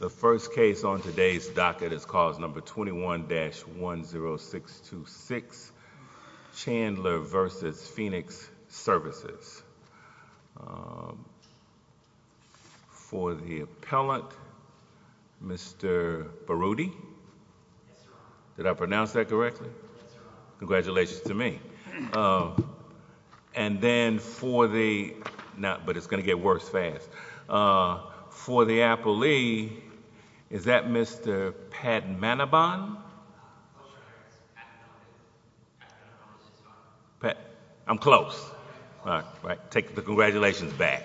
The first case on today's docket is cause number 21-10626, Chandler v. Phoenix Services. For the appellant, Mr. Baroudi, did I pronounce that correctly? Congratulations to me. And then for the, but it's going to get worse fast. For the appellee, is that Mr. Pat Manoban? Pat, I'm close. Take the congratulations back.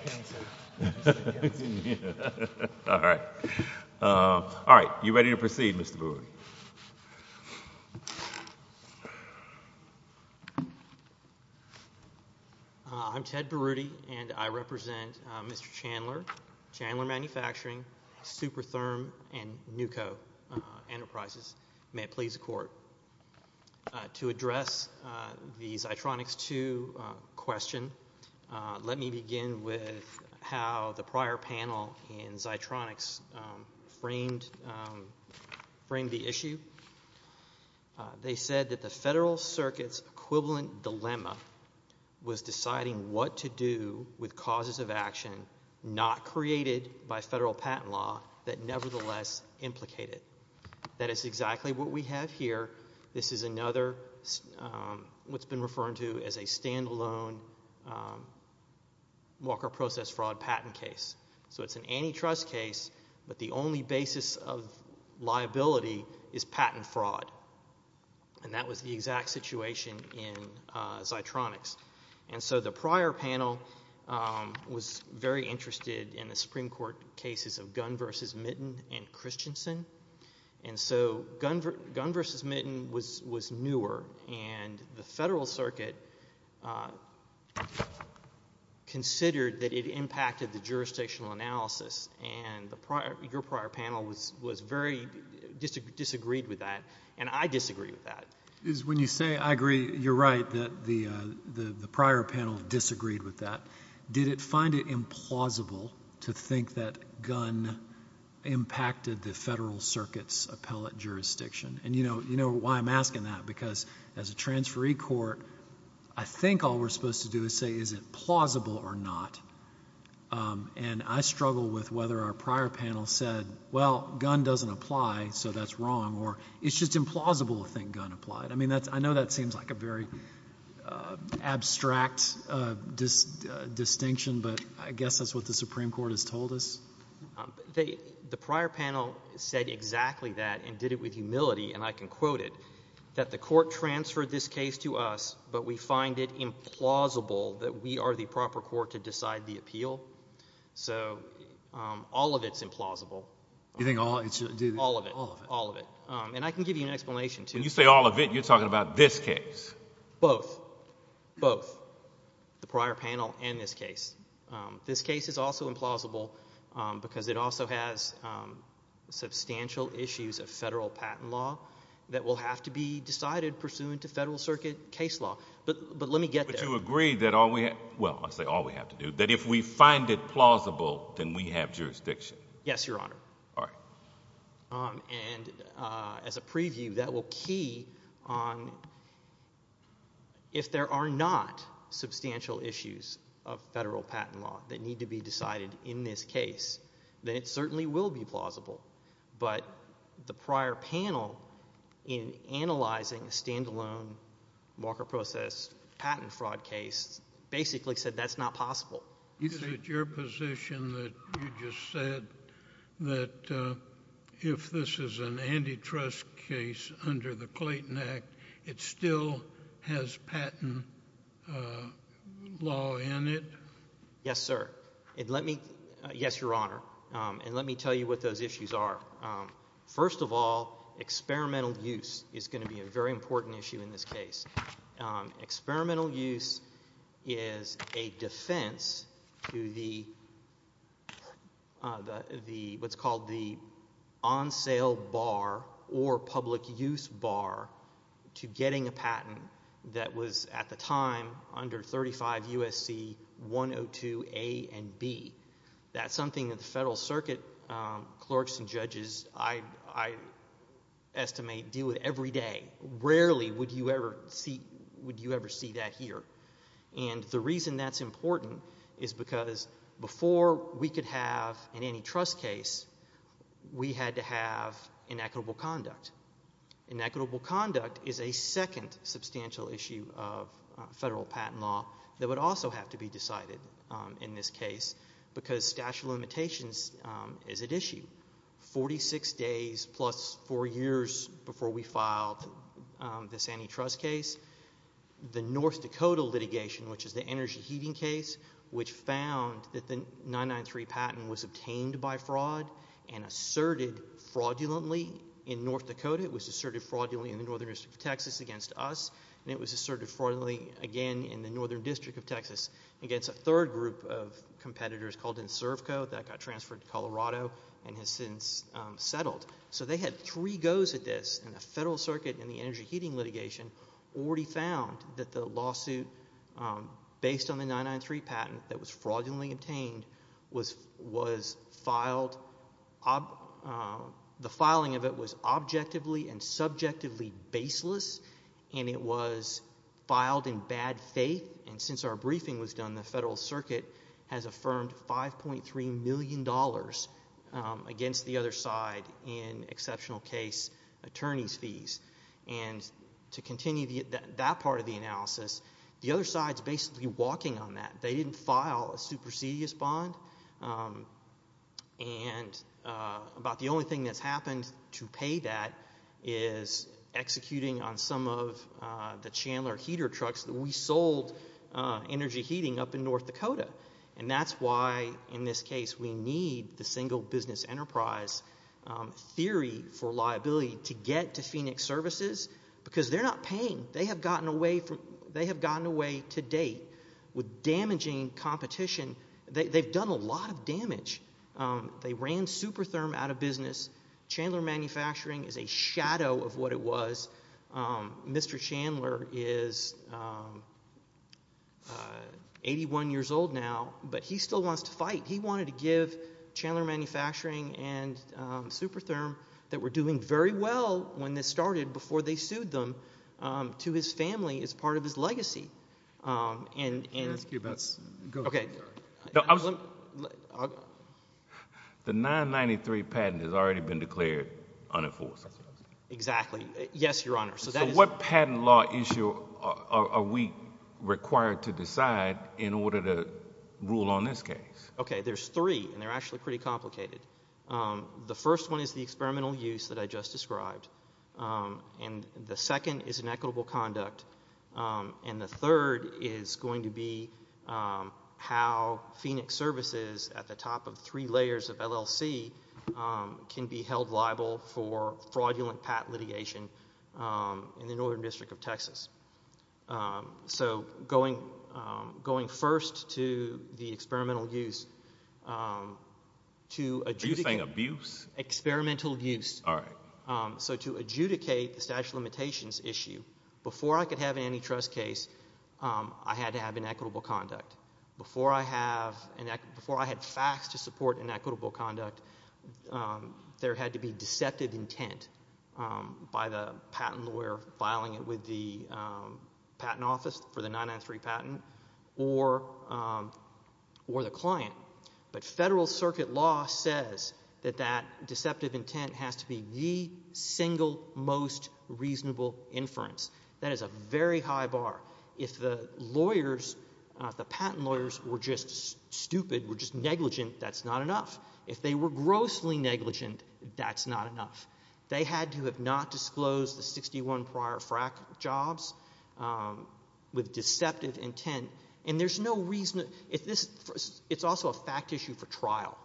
All right, you ready to proceed, Mr. Baroudi? I'm Ted Baroudi, and I represent Mr. Chandler, Chandler Manufacturing, Supertherm, and Nuco Enterprises. May it please the court. To address the Zitronix 2 question, let me begin with how the prior panel in Zitronix framed the issue. They said that the Federal Circuit's equivalent dilemma was deciding what to do with causes of action not created by Federal patent law that nevertheless implicate it. That is exactly what we have here. This is another, what's been referred to as a stand-alone Walker process fraud patent case. So it's an antitrust case, but the only basis of liability is patent fraud. And that was the exact situation in Zitronix. And so the prior panel was very interested in the Supreme Court cases of Gunn v. Mitton and Christensen. And so Gunn v. Mitton was newer, and the Federal Circuit considered that it impacted the jurisdictional analysis, and your prior panel was very, disagreed with that, and I disagree with that. When you say, I agree, you're right, that the prior panel disagreed with that. Did it find it implausible to think that Gunn impacted the Federal Circuit's appellate jurisdiction? And you know why I'm asking that, because as a transferee court, I think all we're supposed to do is say, is it plausible or not? And I struggle with whether our prior panel said, well, Gunn doesn't apply, so that's I mean, I know that seems like a very abstract distinction, but I guess that's what the Supreme Court has told us. The prior panel said exactly that and did it with humility, and I can quote it, that the court transferred this case to us, but we find it implausible that we are the proper court to decide the appeal. So all of it's implausible. You think all of it? All of it. All of it. And I can give you an explanation, too. When you say all of it, you're talking about this case. Both. Both. The prior panel and this case. This case is also implausible because it also has substantial issues of federal patent law that will have to be decided pursuant to Federal Circuit case law. But let me get there. But you agree that all we have, well, I say all we have to do, that if we find it plausible, then we have jurisdiction. Yes, Your Honor. All right. And as a preview, that will key on if there are not substantial issues of federal patent law that need to be decided in this case, then it certainly will be plausible. But the prior panel in analyzing a standalone Walker Process patent fraud case basically said that's not possible. Is it your position that you just said that if this is an antitrust case under the Clayton Act, it still has patent law in it? Yes, sir. And let me, yes, Your Honor. And let me tell you what those issues are. First of all, experimental use is going to be a very important issue in this case. Experimental use is a defense to what's called the on-sale bar or public use bar to getting a patent that was at the time under 35 U.S.C. 102 A and B. That's something that the Federal Circuit clerks and judges, I estimate, deal with every day. Rarely would you ever see that here. And the reason that's important is because before we could have an antitrust case, we had to have inequitable conduct. Inequitable conduct is a second substantial issue of federal patent law that would also have to be decided in this case because statute of limitations is at issue. We waited 46 days plus four years before we filed this antitrust case. The North Dakota litigation, which is the energy heating case, which found that the 993 patent was obtained by fraud and asserted fraudulently in North Dakota. It was asserted fraudulently in the Northern District of Texas against us, and it was asserted fraudulently again in the Northern District of Texas against a third group of competitors called NSERVCO that got transferred to Colorado and has since settled. So they had three goes at this, and the Federal Circuit in the energy heating litigation already found that the lawsuit based on the 993 patent that was fraudulently obtained was filed, the filing of it was objectively and subjectively baseless, and it was filed in bad faith, and it was affirmed $5.3 million against the other side in exceptional case attorneys' fees. And to continue that part of the analysis, the other side's basically walking on that. They didn't file a supersedious bond, and about the only thing that's happened to pay that is executing on some of the Chandler heater trucks that we sold energy heating up in North Dakota, and that's why in this case we need the single business enterprise theory for liability to get to Phoenix Services because they're not paying. They have gotten away to date with damaging competition. They've done a lot of damage. They ran Supertherm out of business. Chandler Manufacturing is a shadow of what it was. Mr. Chandler is 81 years old now, but he still wants to fight. He wanted to give Chandler Manufacturing and Supertherm that were doing very well when this started before they sued them to his family as part of his legacy. And... I'm going to ask you about... Okay. The 993 patent has already been declared unenforced. Exactly. Yes, Your Honor. So what patent law issue are we required to decide in order to rule on this case? Okay, there's three, and they're actually pretty complicated. The first one is the experimental use that I just described, and the second is inequitable conduct, and the third is going to be how Phoenix Services at the top of three layers of LLC can be held liable for fraudulent patent litigation in the Northern District of Texas. So going first to the experimental use, to adjudicate... Are you saying abuse? Experimental use. All right. So to adjudicate the statute of limitations issue, before I could have an antitrust case, I had to have inequitable conduct. Before I had facts to support inequitable conduct, there had to be deceptive intent by the patent lawyer filing it with the patent office for the 993 patent or the client. But federal circuit law says that that deceptive intent has to be the single most reasonable inference. That is a very high bar. If the lawyers, the patent lawyers, were just stupid, were just negligent, that's not enough. If they were grossly negligent, that's not enough. They had to have not disclosed the 61 prior frack jobs with deceptive intent, and there's no reason... It's also a fact issue for trial.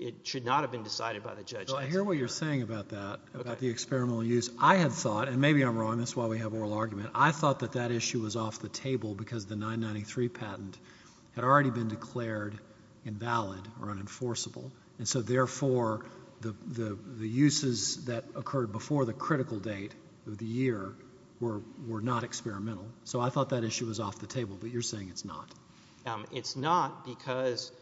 It should not have been decided by the judge. So I hear what you're saying about that, about the experimental use. I had thought, and maybe I'm wrong, that's why we have oral argument. I thought that that issue was off the table because the 993 patent had already been declared invalid or unenforceable, and so therefore the uses that occurred before the critical date of the year were not experimental. So I thought that issue was off the table, but you're saying it's not. It's not because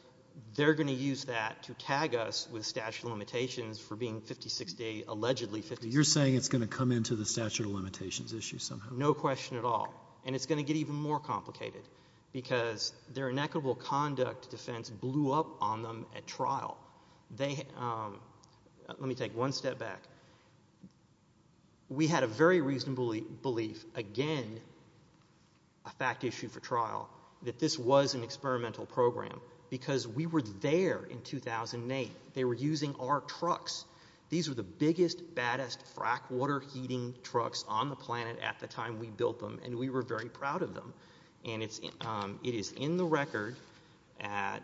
they're going to use that to tag us with statute of limitations for being 56 days, allegedly 56 days. You're saying it's going to come into the statute of limitations issue somehow. No question at all. And it's going to get even more complicated because their inequitable conduct defense blew up on them at trial. They... Let me take one step back. We had a very reasonable belief, again, a fact issue for trial, that this was an experimental program because we were there in 2008. They were using our trucks. These were the biggest, baddest, frack water heating trucks on the planet at the time we built them, and we were very proud of them. And it is in the record at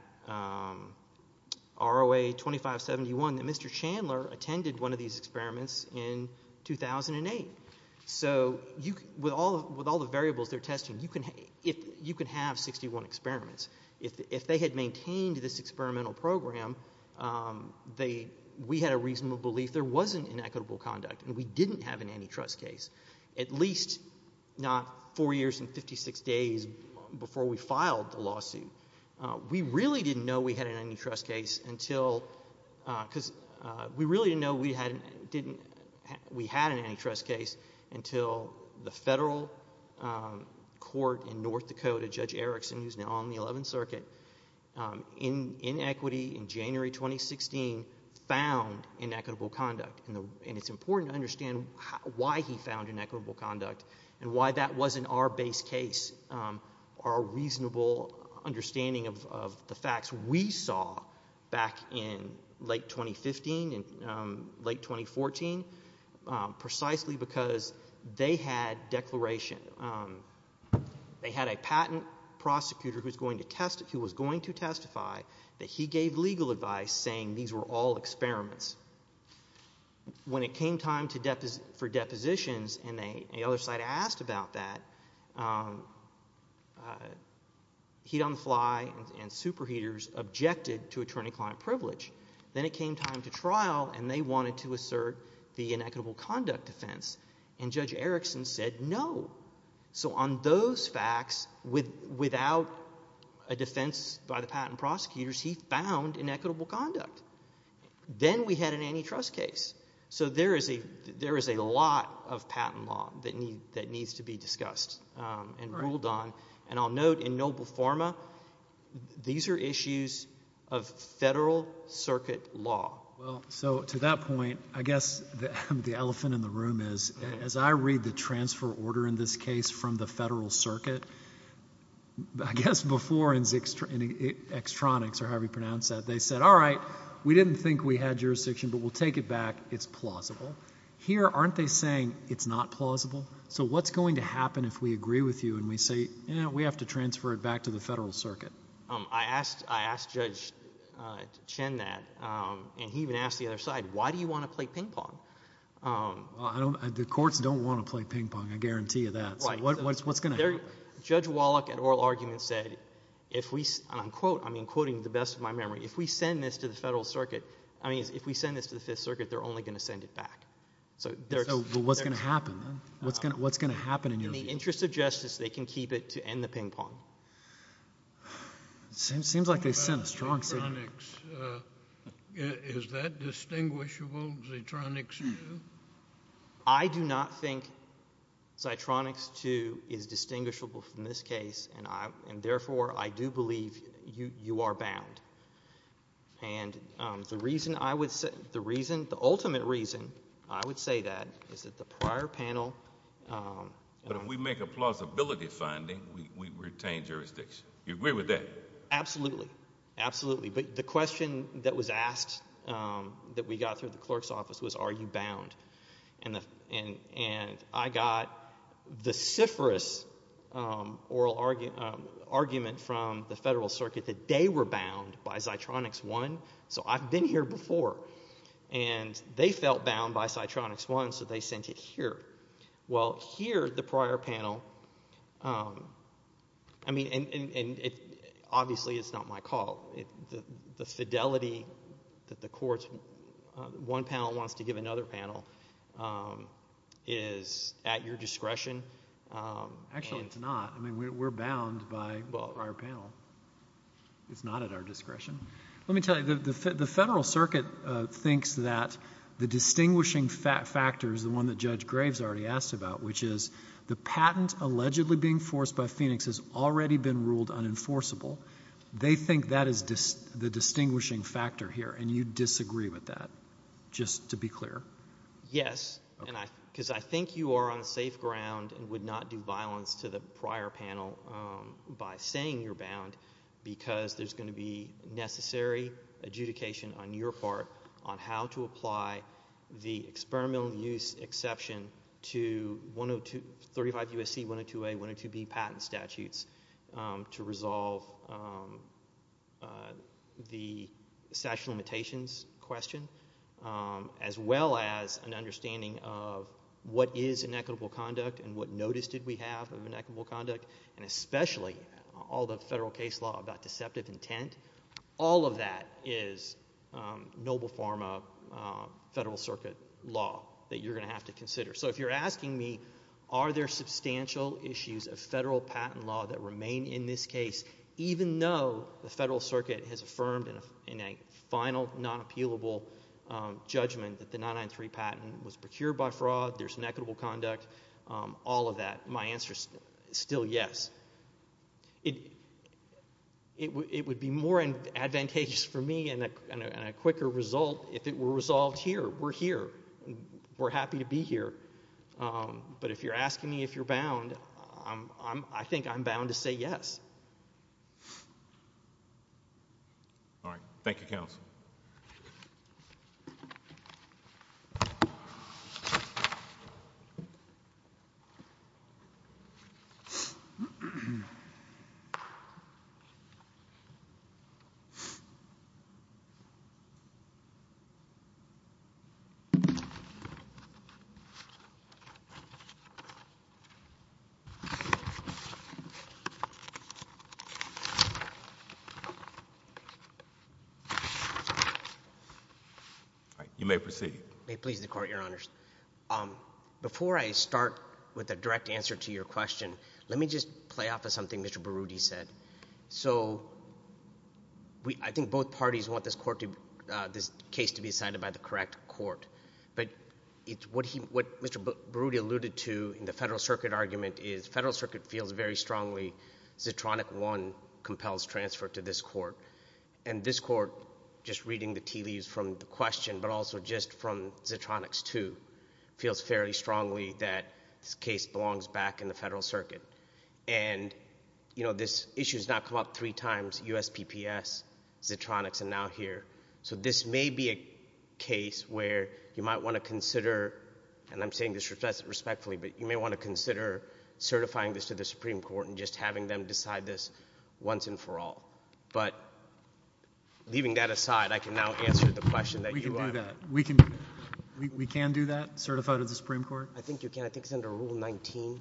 ROA 2571 that Mr. Chandler attended one of these experiments in 2008. So with all the variables they're testing, you can have 61 experiments. If they had maintained this experimental program, we had a reasonable belief there wasn't inequitable conduct and we didn't have an antitrust case, at least not four years and 56 days before we filed the lawsuit. We really didn't know we had an antitrust case until... We really didn't know we had an antitrust case until the federal court in North Dakota, Judge Erickson, who's now on the 11th Circuit, in equity in January 2016, found inequitable conduct. And it's important to understand why he found inequitable conduct and why that wasn't our base case, our reasonable understanding of the facts. We saw back in late 2015 and late 2014 precisely because they had declaration. They had a patent prosecutor who was going to testify that he gave legal advice saying these were all experiments. When it came time for depositions, and the other side asked about that, Heat on the Fly and Super Heaters objected to attorney-client privilege. Then it came time to trial, and they wanted to assert the inequitable conduct defense. And Judge Erickson said no. So on those facts, without a defense by the patent prosecutors, he found inequitable conduct. Then we had an antitrust case. So there is a lot of patent law that needs to be discussed and ruled on. And I'll note in Noble Forma, these are issues of federal circuit law. So to that point, I guess the elephant in the room is, as I read the transfer order in this case from the federal circuit, I guess before in Extronix or however you pronounce that, they said, all right, we didn't think we had jurisdiction, but we'll take it back. It's plausible. Here, aren't they saying it's not plausible? So what's going to happen if we agree with you and we say, eh, we have to transfer it back to the federal circuit? I asked Judge Chen that, and he even asked the other side, why do you want to play ping pong? Well, the courts don't want to play ping pong, I guarantee you that. Right. So what's going to happen? Judge Wallach, in oral argument, said, and I'm quoting the best of my memory, if we send this to the federal circuit, I mean, if we send this to the Fifth Circuit, they're only going to send it back. So what's going to happen then? What's going to happen in your view? In the interest of justice, they can keep it to end the ping pong. Seems like they sent a strong signal. Is that distinguishable, Xitronix 2? I do not think Xitronix 2 is distinguishable from this case, and therefore, I do believe you are bound. And the reason, the ultimate reason I would say that is that the prior panel... But if we make a plausibility finding, we retain jurisdiction. You agree with that? Absolutely. Absolutely. But the question that was asked that we got through the clerk's office was, are you bound? And I got the cifrous oral argument from the federal circuit that they were bound by Xitronix 1. So I've been here before, and they felt bound by Xitronix 1, so they sent it here. Well, here, the prior panel... I mean, and obviously, it's not my call. The fidelity that the courts... one panel wants to give another panel... is at your discretion. Actually, it's not. I mean, we're bound by the prior panel. It's not at our discretion. Let me tell you, the federal circuit thinks that the distinguishing factors, the one that Judge Graves already asked about, which is the patent allegedly being forced by Phoenix has already been ruled unenforceable. They think that is the distinguishing factor here, and you disagree with that, just to be clear. Yes. Okay. Because I think you are on safe ground and would not do violence to the prior panel by saying you're bound because there's going to be necessary adjudication on your part on how to apply the experimental use exception to 35 U.S.C. 102A, 102B patent statutes to resolve the statute of limitations question, as well as an understanding of what is inequitable conduct and what notice did we have of inequitable conduct, and especially all the federal case law about deceptive intent, all of that is noble forma federal circuit law that you're going to have to consider. So, if you're asking me, are there substantial issues of federal patent law that remain in this case, even though the federal circuit has affirmed in a final non-appealable judgment that the 993 patent was procured by fraud, there's inequitable conduct, all of that, my answer is still yes. It would be more advantageous for me and a quicker result if it were resolved here. We're here. We're happy to be here. But if you're asking me if you're bound, I think I'm bound to say yes. All right. Thank you, counsel. All right. You may proceed. May it please the Court, Your Honors. Before I start with a direct answer to your question, let me just play off of something Mr. Berruti said. So, I think both parties want this court to, this case to be decided by the correct court. But what Mr. Berruti alluded to in the federal circuit argument is federal circuit feels very strongly Zitronic 1 compels transfer to this court. And this court, just reading the tea leaves from the question, but also just from Zitronics 2, feels fairly strongly that this case belongs back in the federal circuit. And, you know, this issue has now come up three times, USPPS, Zitronics, and now here. So, this may be a case where you might want to consider, and I'm saying this respectfully, but you may want to consider certifying this to the Supreme Court and just having them decide this once and for all. But leaving that aside, I can now answer the question that you are. We can do that. We can do that, certify to the Supreme Court? I think you can. I think it's under Rule 19.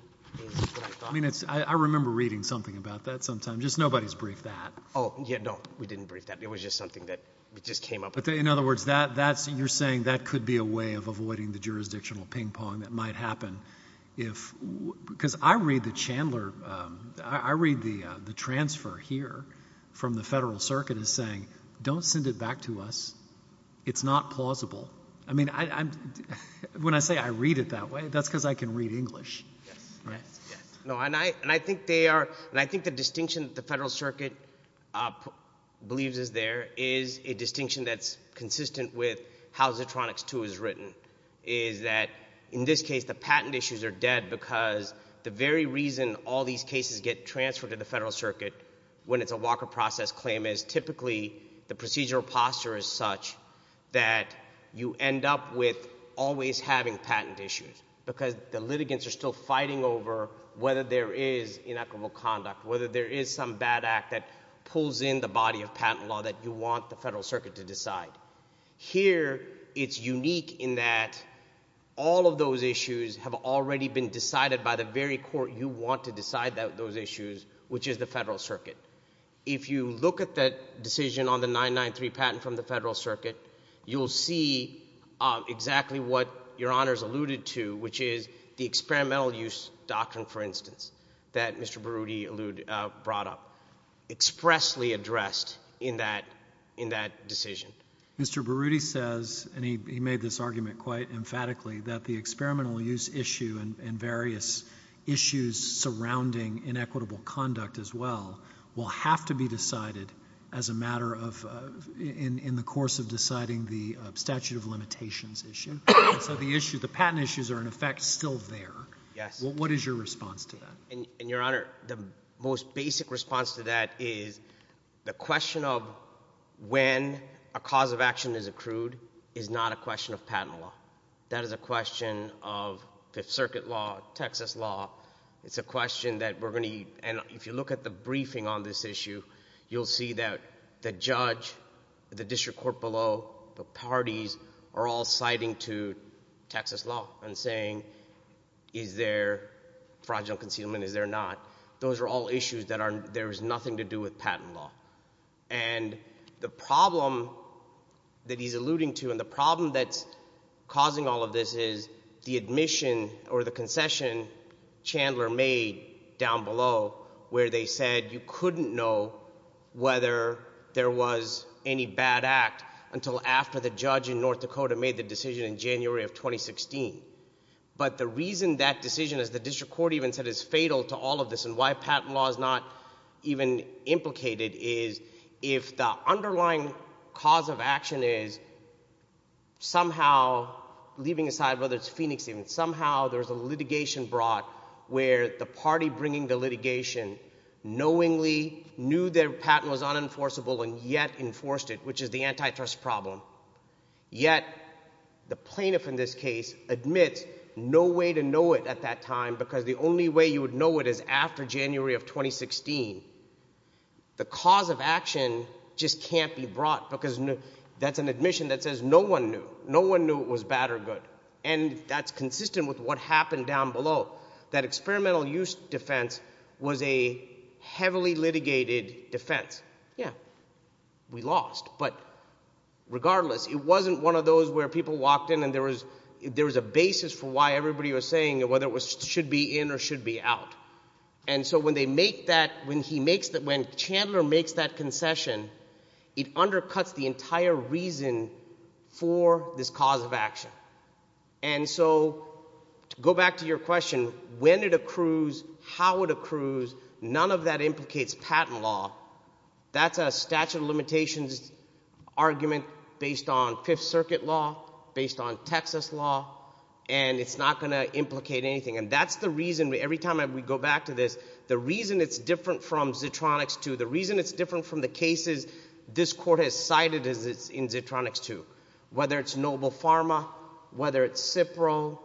I mean, I remember reading something about that sometime. Just nobody's briefed that. Oh, yeah, no. We didn't brief that. It was just something that just came up. In other words, you're saying that could be a way of avoiding the jurisdictional ping-pong that might happen if, because I read the Chandler, I read the transfer here from the federal circuit as saying, don't send it back to us. It's not plausible. I mean, when I say I read it that way, that's because I can read English, right? No, and I think they are, and I think the distinction that the federal circuit believes is there is a distinction that's consistent with how Zitronix 2 is written, is that in this case, the patent issues are dead because the very reason all these cases get transferred to the federal circuit when it's a Walker process claim is typically the procedural posture is such that you end up with always having patent issues because the litigants are still fighting over whether there is inequitable conduct, whether there is some bad act that pulls in the body of patent law that you want the federal circuit to decide. Here, it's unique in that all of those issues have already been decided by the very court you want to decide those issues, which is the federal circuit. If you look at the decision on the 993 patent from the federal circuit, you'll see exactly what Your Honors alluded to, which is the experimental use doctrine, for instance, that Mr. Berruti brought up, expressly addressed in that decision. Mr. Berruti says, and he made this argument quite emphatically, that the experimental use issue and various issues surrounding inequitable conduct as well will have to be decided in the course of deciding the statute of limitations issue. The patent issues are, in effect, still there. What is your response to that? Your Honor, the most basic response to that is the question of when a cause of action is accrued is not a question of patent law. That is a question of Fifth Circuit law, Texas law. It's a question that we're going to—and if you look at the briefing on this issue, you'll see that the judge, the district court below, the parties are all citing to Texas law and saying, is there fraudulent concealment, is there not? Those are all issues that are—there is nothing to do with patent law. And the problem that he's alluding to and the problem that's causing all of this is the admission or the concession Chandler made down below where they said you couldn't know whether there was any bad act until after the judge in North Dakota made the decision in January of 2016. But the reason that decision, as the district court even said, is fatal to all of this and why patent law is not even implicated is if the underlying cause of action is somehow leaving aside whether it's Phoenix even, somehow there's a litigation brought where the party bringing the litigation knowingly knew their patent was unenforceable and yet enforced it, which is the antitrust problem. Yet the plaintiff in this case admits no way to know it at that time because the only way you would know it is after January of 2016. The cause of action just can't be brought because that's an admission that says no one knew. No one knew it was bad or good, and that's consistent with what happened down below. That experimental use defense was a heavily litigated defense. Yeah, we lost, but regardless, it wasn't one of those where people walked in and there was a basis for why everybody was saying whether it should be in or should be out. And so when they make that, when Chandler makes that concession, it undercuts the entire reason for this cause of action. And so to go back to your question, when it accrues, how it accrues, none of that implicates patent law. That's a statute of limitations argument based on Fifth Circuit law, based on Texas law, and it's not going to implicate anything. And that's the reason every time we go back to this, the reason it's different from Zitronix 2, the reason it's different from the cases this court has cited in Zitronix 2, whether it's Noble Pharma, whether it's Cipro,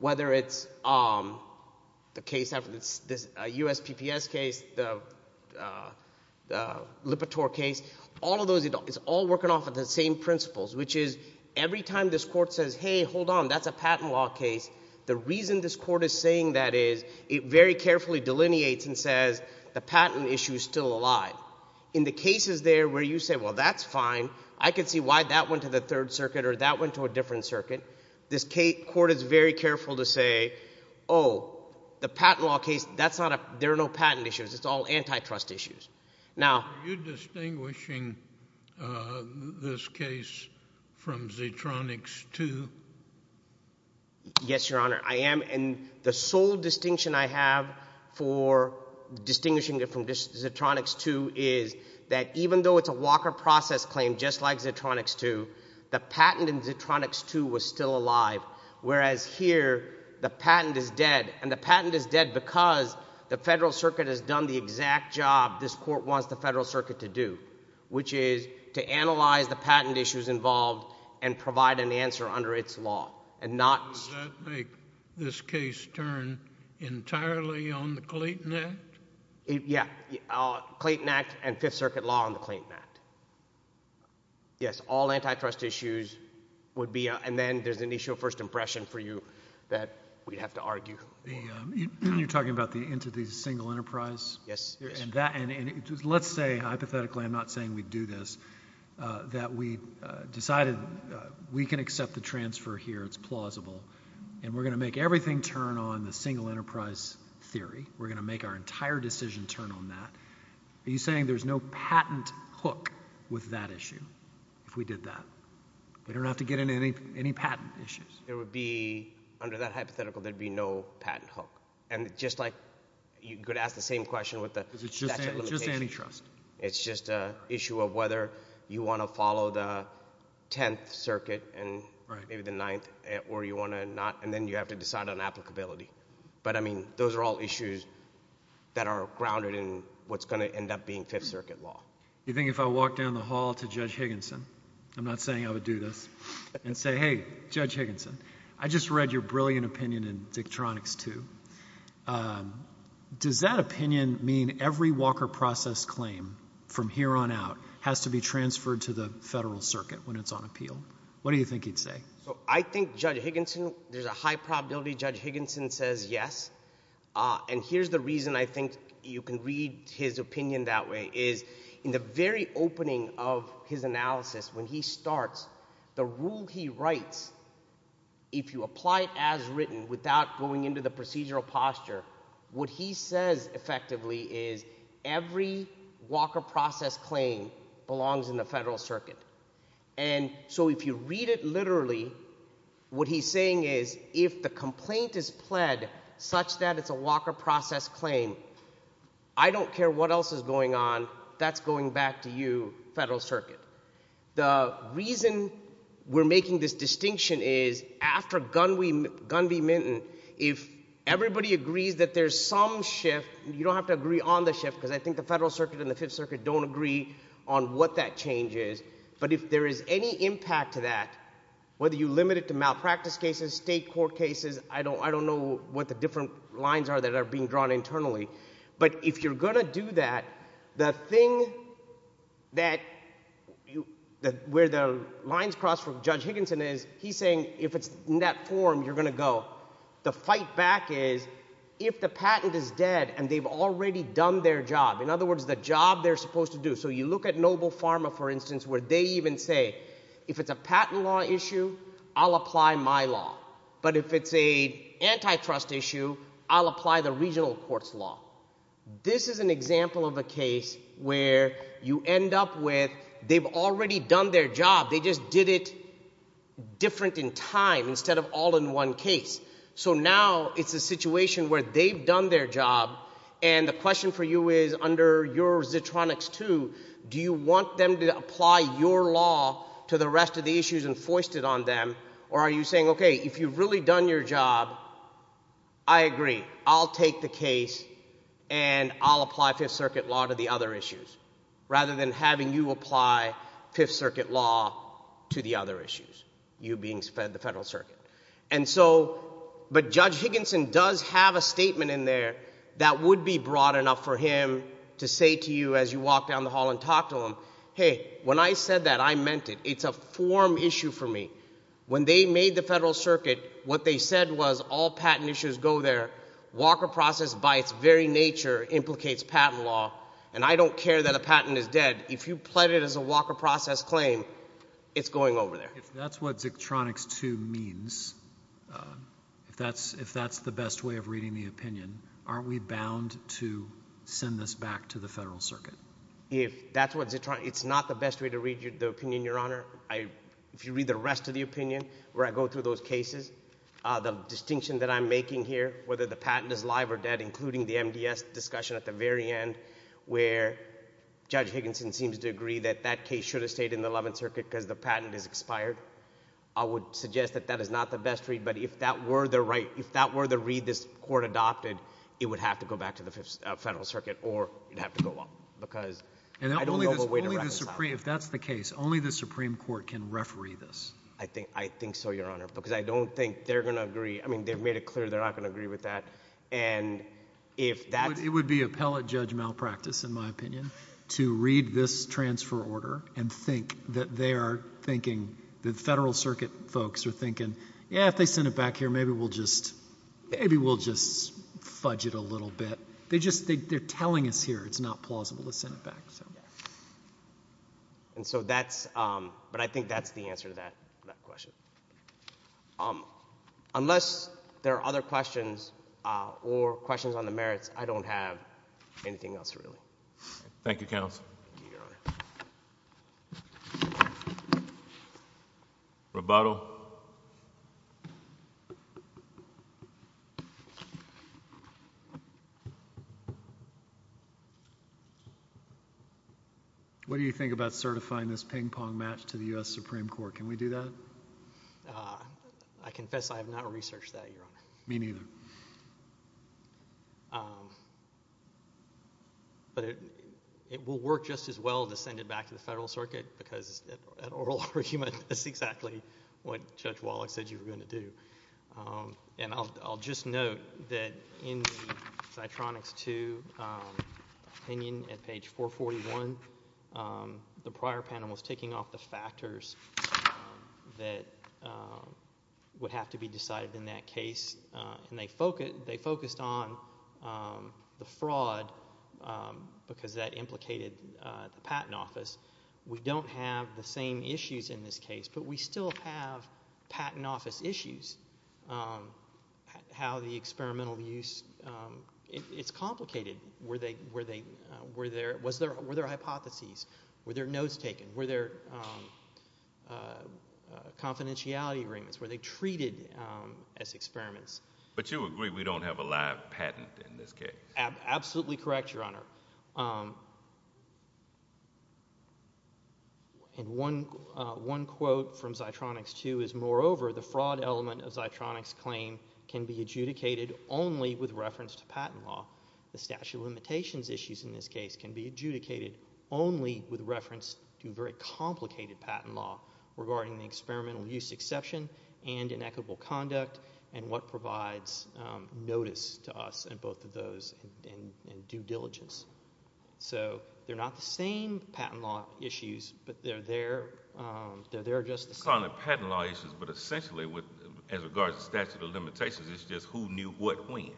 whether it's the case after the USPPS case, the Lipitor case, all of those, it's all working off of the same principles, which is every time this court says, hey, hold on, that's a patent law case, the reason this court is saying that is it very carefully delineates and says the patent issue is still alive. In the cases there where you say, well, that's fine, I can see why that went to the Third Circuit or that went to a different circuit, this court is very careful to say, oh, the patent law case, there are no patent issues, it's all antitrust issues. Are you distinguishing this case from Zitronix 2? Yes, Your Honor, I am, and the sole distinction I have for distinguishing it from Zitronix 2 is that even though it's a Walker process claim just like Zitronix 2, the patent in Zitronix 2 was still alive, whereas here the patent is dead, and the patent is dead because the Federal Circuit has done the exact job this court wants the Federal Circuit to do, which is to analyze the patent issues involved and provide an answer under its law. Does that make this case turn entirely on the Clayton Act? Yes, Clayton Act and Fifth Circuit law on the Clayton Act. Yes, all antitrust issues would be, and then there's an initial first impression for you that we'd have to argue. You're talking about the single enterprise? Yes. And let's say hypothetically, I'm not saying we'd do this, that we decided we can accept the transfer here, it's plausible, and we're going to make everything turn on the single enterprise theory. We're going to make our entire decision turn on that. Are you saying there's no patent hook with that issue if we did that? We don't have to get into any patent issues? There would be, under that hypothetical, there would be no patent hook. And just like you could ask the same question with the statute of limitations. It's just antitrust. It's just an issue of whether you want to follow the Tenth Circuit and maybe the Ninth, or you want to not, and then you have to decide on applicability. But, I mean, those are all issues that are grounded in what's going to end up being Fifth Circuit law. Do you think if I walked down the hall to Judge Higginson, I'm not saying I would do this, and say, hey, Judge Higginson, I just read your brilliant opinion in Dictronics II. Does that opinion mean every Walker process claim from here on out has to be transferred to the federal circuit when it's on appeal? What do you think he'd say? I think Judge Higginson, there's a high probability Judge Higginson says yes. And here's the reason I think you can read his opinion that way, is in the very opening of his analysis, when he starts, the rule he writes, if you apply it as written without going into the procedural posture, what he says effectively is every Walker process claim belongs in the federal circuit. And so if you read it literally, what he's saying is if the complaint is pled such that it's a Walker process claim, I don't care what else is going on, that's going back to you, federal circuit. The reason we're making this distinction is after Gunn v. Minton, if everybody agrees that there's some shift, you don't have to agree on the shift, because I think the federal circuit and the Fifth Circuit don't agree on what that change is, but if there is any impact to that, whether you limit it to malpractice cases, state court cases, I don't know what the different lines are that are being drawn internally, but if you're going to do that, the thing that where the lines cross for Judge Higginson is, he's saying if it's in that form, you're going to go. The fight back is if the patent is dead and they've already done their job, in other words, the job they're supposed to do. So you look at Noble Pharma, for instance, where they even say if it's a patent law issue, I'll apply my law. But if it's an antitrust issue, I'll apply the regional court's law. This is an example of a case where you end up with they've already done their job. They just did it different in time instead of all in one case. So now it's a situation where they've done their job, and the question for you is, under your Zitronix 2, do you want them to apply your law to the rest of the issues and foist it on them, or are you saying, okay, if you've really done your job, I agree. I'll take the case and I'll apply Fifth Circuit law to the other issues rather than having you apply Fifth Circuit law to the other issues, you being fed the Federal Circuit. But Judge Higginson does have a statement in there that would be broad enough for him to say to you as you walk down the hall and talk to him, hey, when I said that, I meant it. It's a form issue for me. When they made the Federal Circuit, what they said was all patent issues go there. Walker process by its very nature implicates patent law, and I don't care that a patent is dead. If you pled it as a Walker process claim, it's going over there. If that's what Zitronix 2 means, if that's the best way of reading the opinion, aren't we bound to send this back to the Federal Circuit? If that's what Zitronix, it's not the best way to read the opinion, Your Honor. If you read the rest of the opinion where I go through those cases, the distinction that I'm making here, whether the patent is live or dead, including the MDS discussion at the very end where Judge Higginson seems to agree that that case should have stayed in the Eleventh Circuit because the patent is expired, I would suggest that that is not the best read. But if that were the read this Court adopted, it would have to go back to the Federal Circuit or it would have to go up because I don't know of a way to reconcile it. If that's the case, only the Supreme Court can referee this. I think so, Your Honor, because I don't think they're going to agree. I mean, they've made it clear they're not going to agree with that. It would be appellate judge malpractice, in my opinion, to read this transfer order and think that they are thinking, the Federal Circuit folks are thinking, yeah, if they send it back here, maybe we'll just fudge it a little bit. They're telling us here it's not plausible to send it back. And so that's—but I think that's the answer to that question. Unless there are other questions or questions on the merits, I don't have anything else really. Thank you, counsel. Thank you, Your Honor. Roboto. What do you think about certifying this ping-pong match to the U.S. Supreme Court? Can we do that? I confess I have not researched that, Your Honor. Me neither. But it will work just as well to send it back to the Federal Circuit because at oral argument, that's exactly what Judge Wallach said you were going to do. And I'll just note that in the Citronix II opinion at page 441, the prior panel was taking off the factors that would have to be decided in that case, and they focused on the fraud because that implicated the Patent Office. We don't have the same issues in this case, but we still have Patent Office issues. How the experimental use—it's complicated. Were there hypotheses? Were there notes taken? Were there confidentiality agreements? Were they treated as experiments? But you agree we don't have a live patent in this case? Absolutely correct, Your Honor. And one quote from Citronix II is, moreover, the fraud element of Citronix's claim can be adjudicated only with reference to patent law. The statute of limitations issues in this case can be adjudicated only with reference to very complicated patent law regarding the experimental use exception and inequitable conduct and what provides notice to us in both of those and due diligence. So they're not the same patent law issues, but they're there just the same. It's not only patent law issues, but essentially, as regards to statute of limitations, it's just who knew what when.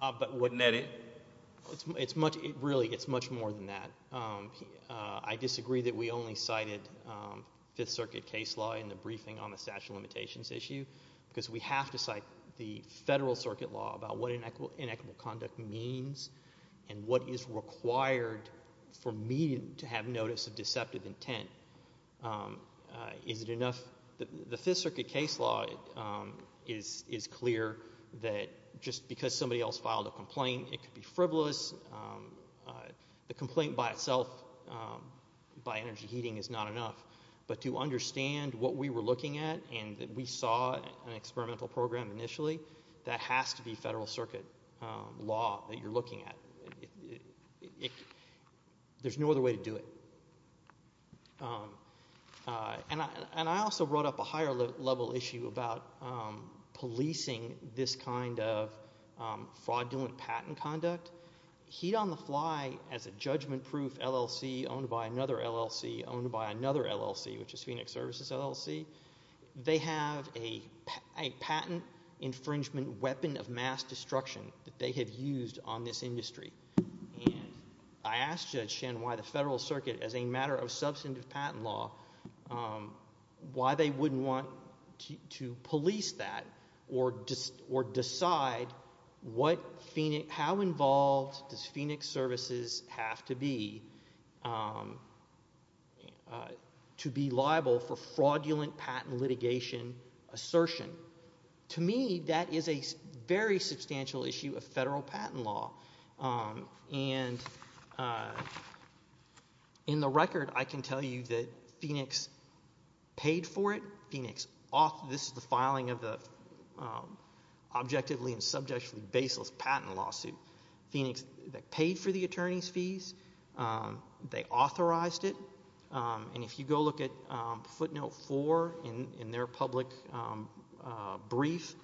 But wasn't that it? Really, it's much more than that. I disagree that we only cited Fifth Circuit case law in the briefing on the statute of limitations issue because we have to cite the Federal Circuit law about what inequitable conduct means and what is required for me to have notice of deceptive intent. Is it enough? The Fifth Circuit case law is clear that just because somebody else filed a complaint, it could be frivolous. The complaint by itself, by energy heating, is not enough. But to understand what we were looking at and that we saw an experimental program initially, that has to be Federal Circuit law that you're looking at. There's no other way to do it. And I also brought up a higher-level issue about policing this kind of fraudulent patent conduct. Heat on the Fly, as a judgment-proof LLC owned by another LLC owned by another LLC, which is Phoenix Services LLC, they have a patent infringement weapon of mass destruction that they have used on this industry. And I asked Judge Shen why the Federal Circuit, as a matter of substantive patent law, why they wouldn't want to police that or decide how involved does Phoenix Services have to be to be liable for fraudulent patent litigation assertion. To me, that is a very substantial issue of Federal patent law. And in the record, I can tell you that Phoenix paid for it. This is the filing of the objectively and subjectively baseless patent lawsuit. Phoenix paid for the attorney's fees. They authorized it. And if you go look at footnote four in their public brief,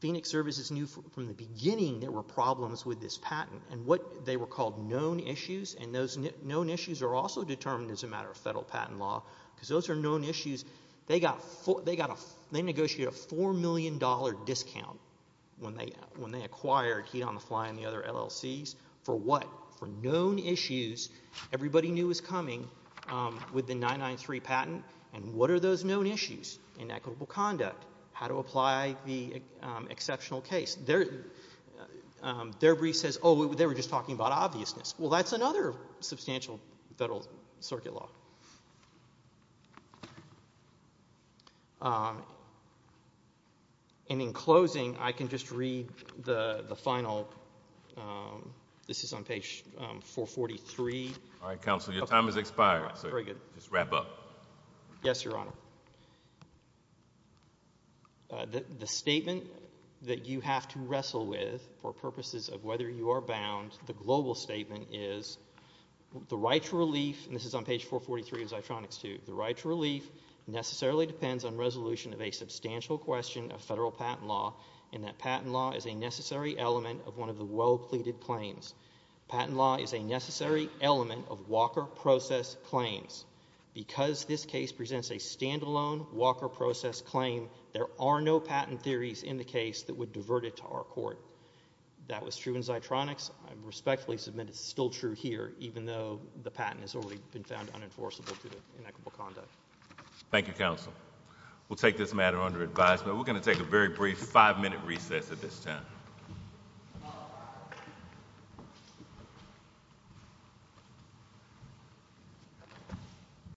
Phoenix Services knew from the beginning there were problems with this patent. And what they were called known issues, and those known issues are also determined as a matter of Federal patent law because those are known issues. They negotiated a $4 million discount when they acquired Heat on the Fly and the other LLCs. For what? For known issues everybody knew was coming with the 993 patent. And what are those known issues? Inequitable conduct. How to apply the exceptional case. Their brief says, oh, they were just talking about obviousness. Well, that's another substantial Federal circuit law. And in closing, I can just read the final. This is on page 443. All right, Counselor, your time has expired, so just wrap up. Yes, Your Honor. The statement that you have to wrestle with for purposes of whether you are bound, the global statement is the right to relief, and this is on page 443 of Zitronix II, the right to relief necessarily depends on resolution of a substantial question of Federal patent law and that patent law is a necessary element of one of the well pleaded claims. Patent law is a necessary element of Walker process claims. Because this case presents a standalone Walker process claim, there are no patent theories in the case that would divert it to our court. That was true in Zitronix. I respectfully submit it's still true here, even though the patent has already been found unenforceable to the inequitable conduct. Thank you, Counselor. We'll take this matter under advisement. We're going to take a very brief five-minute recess at this time.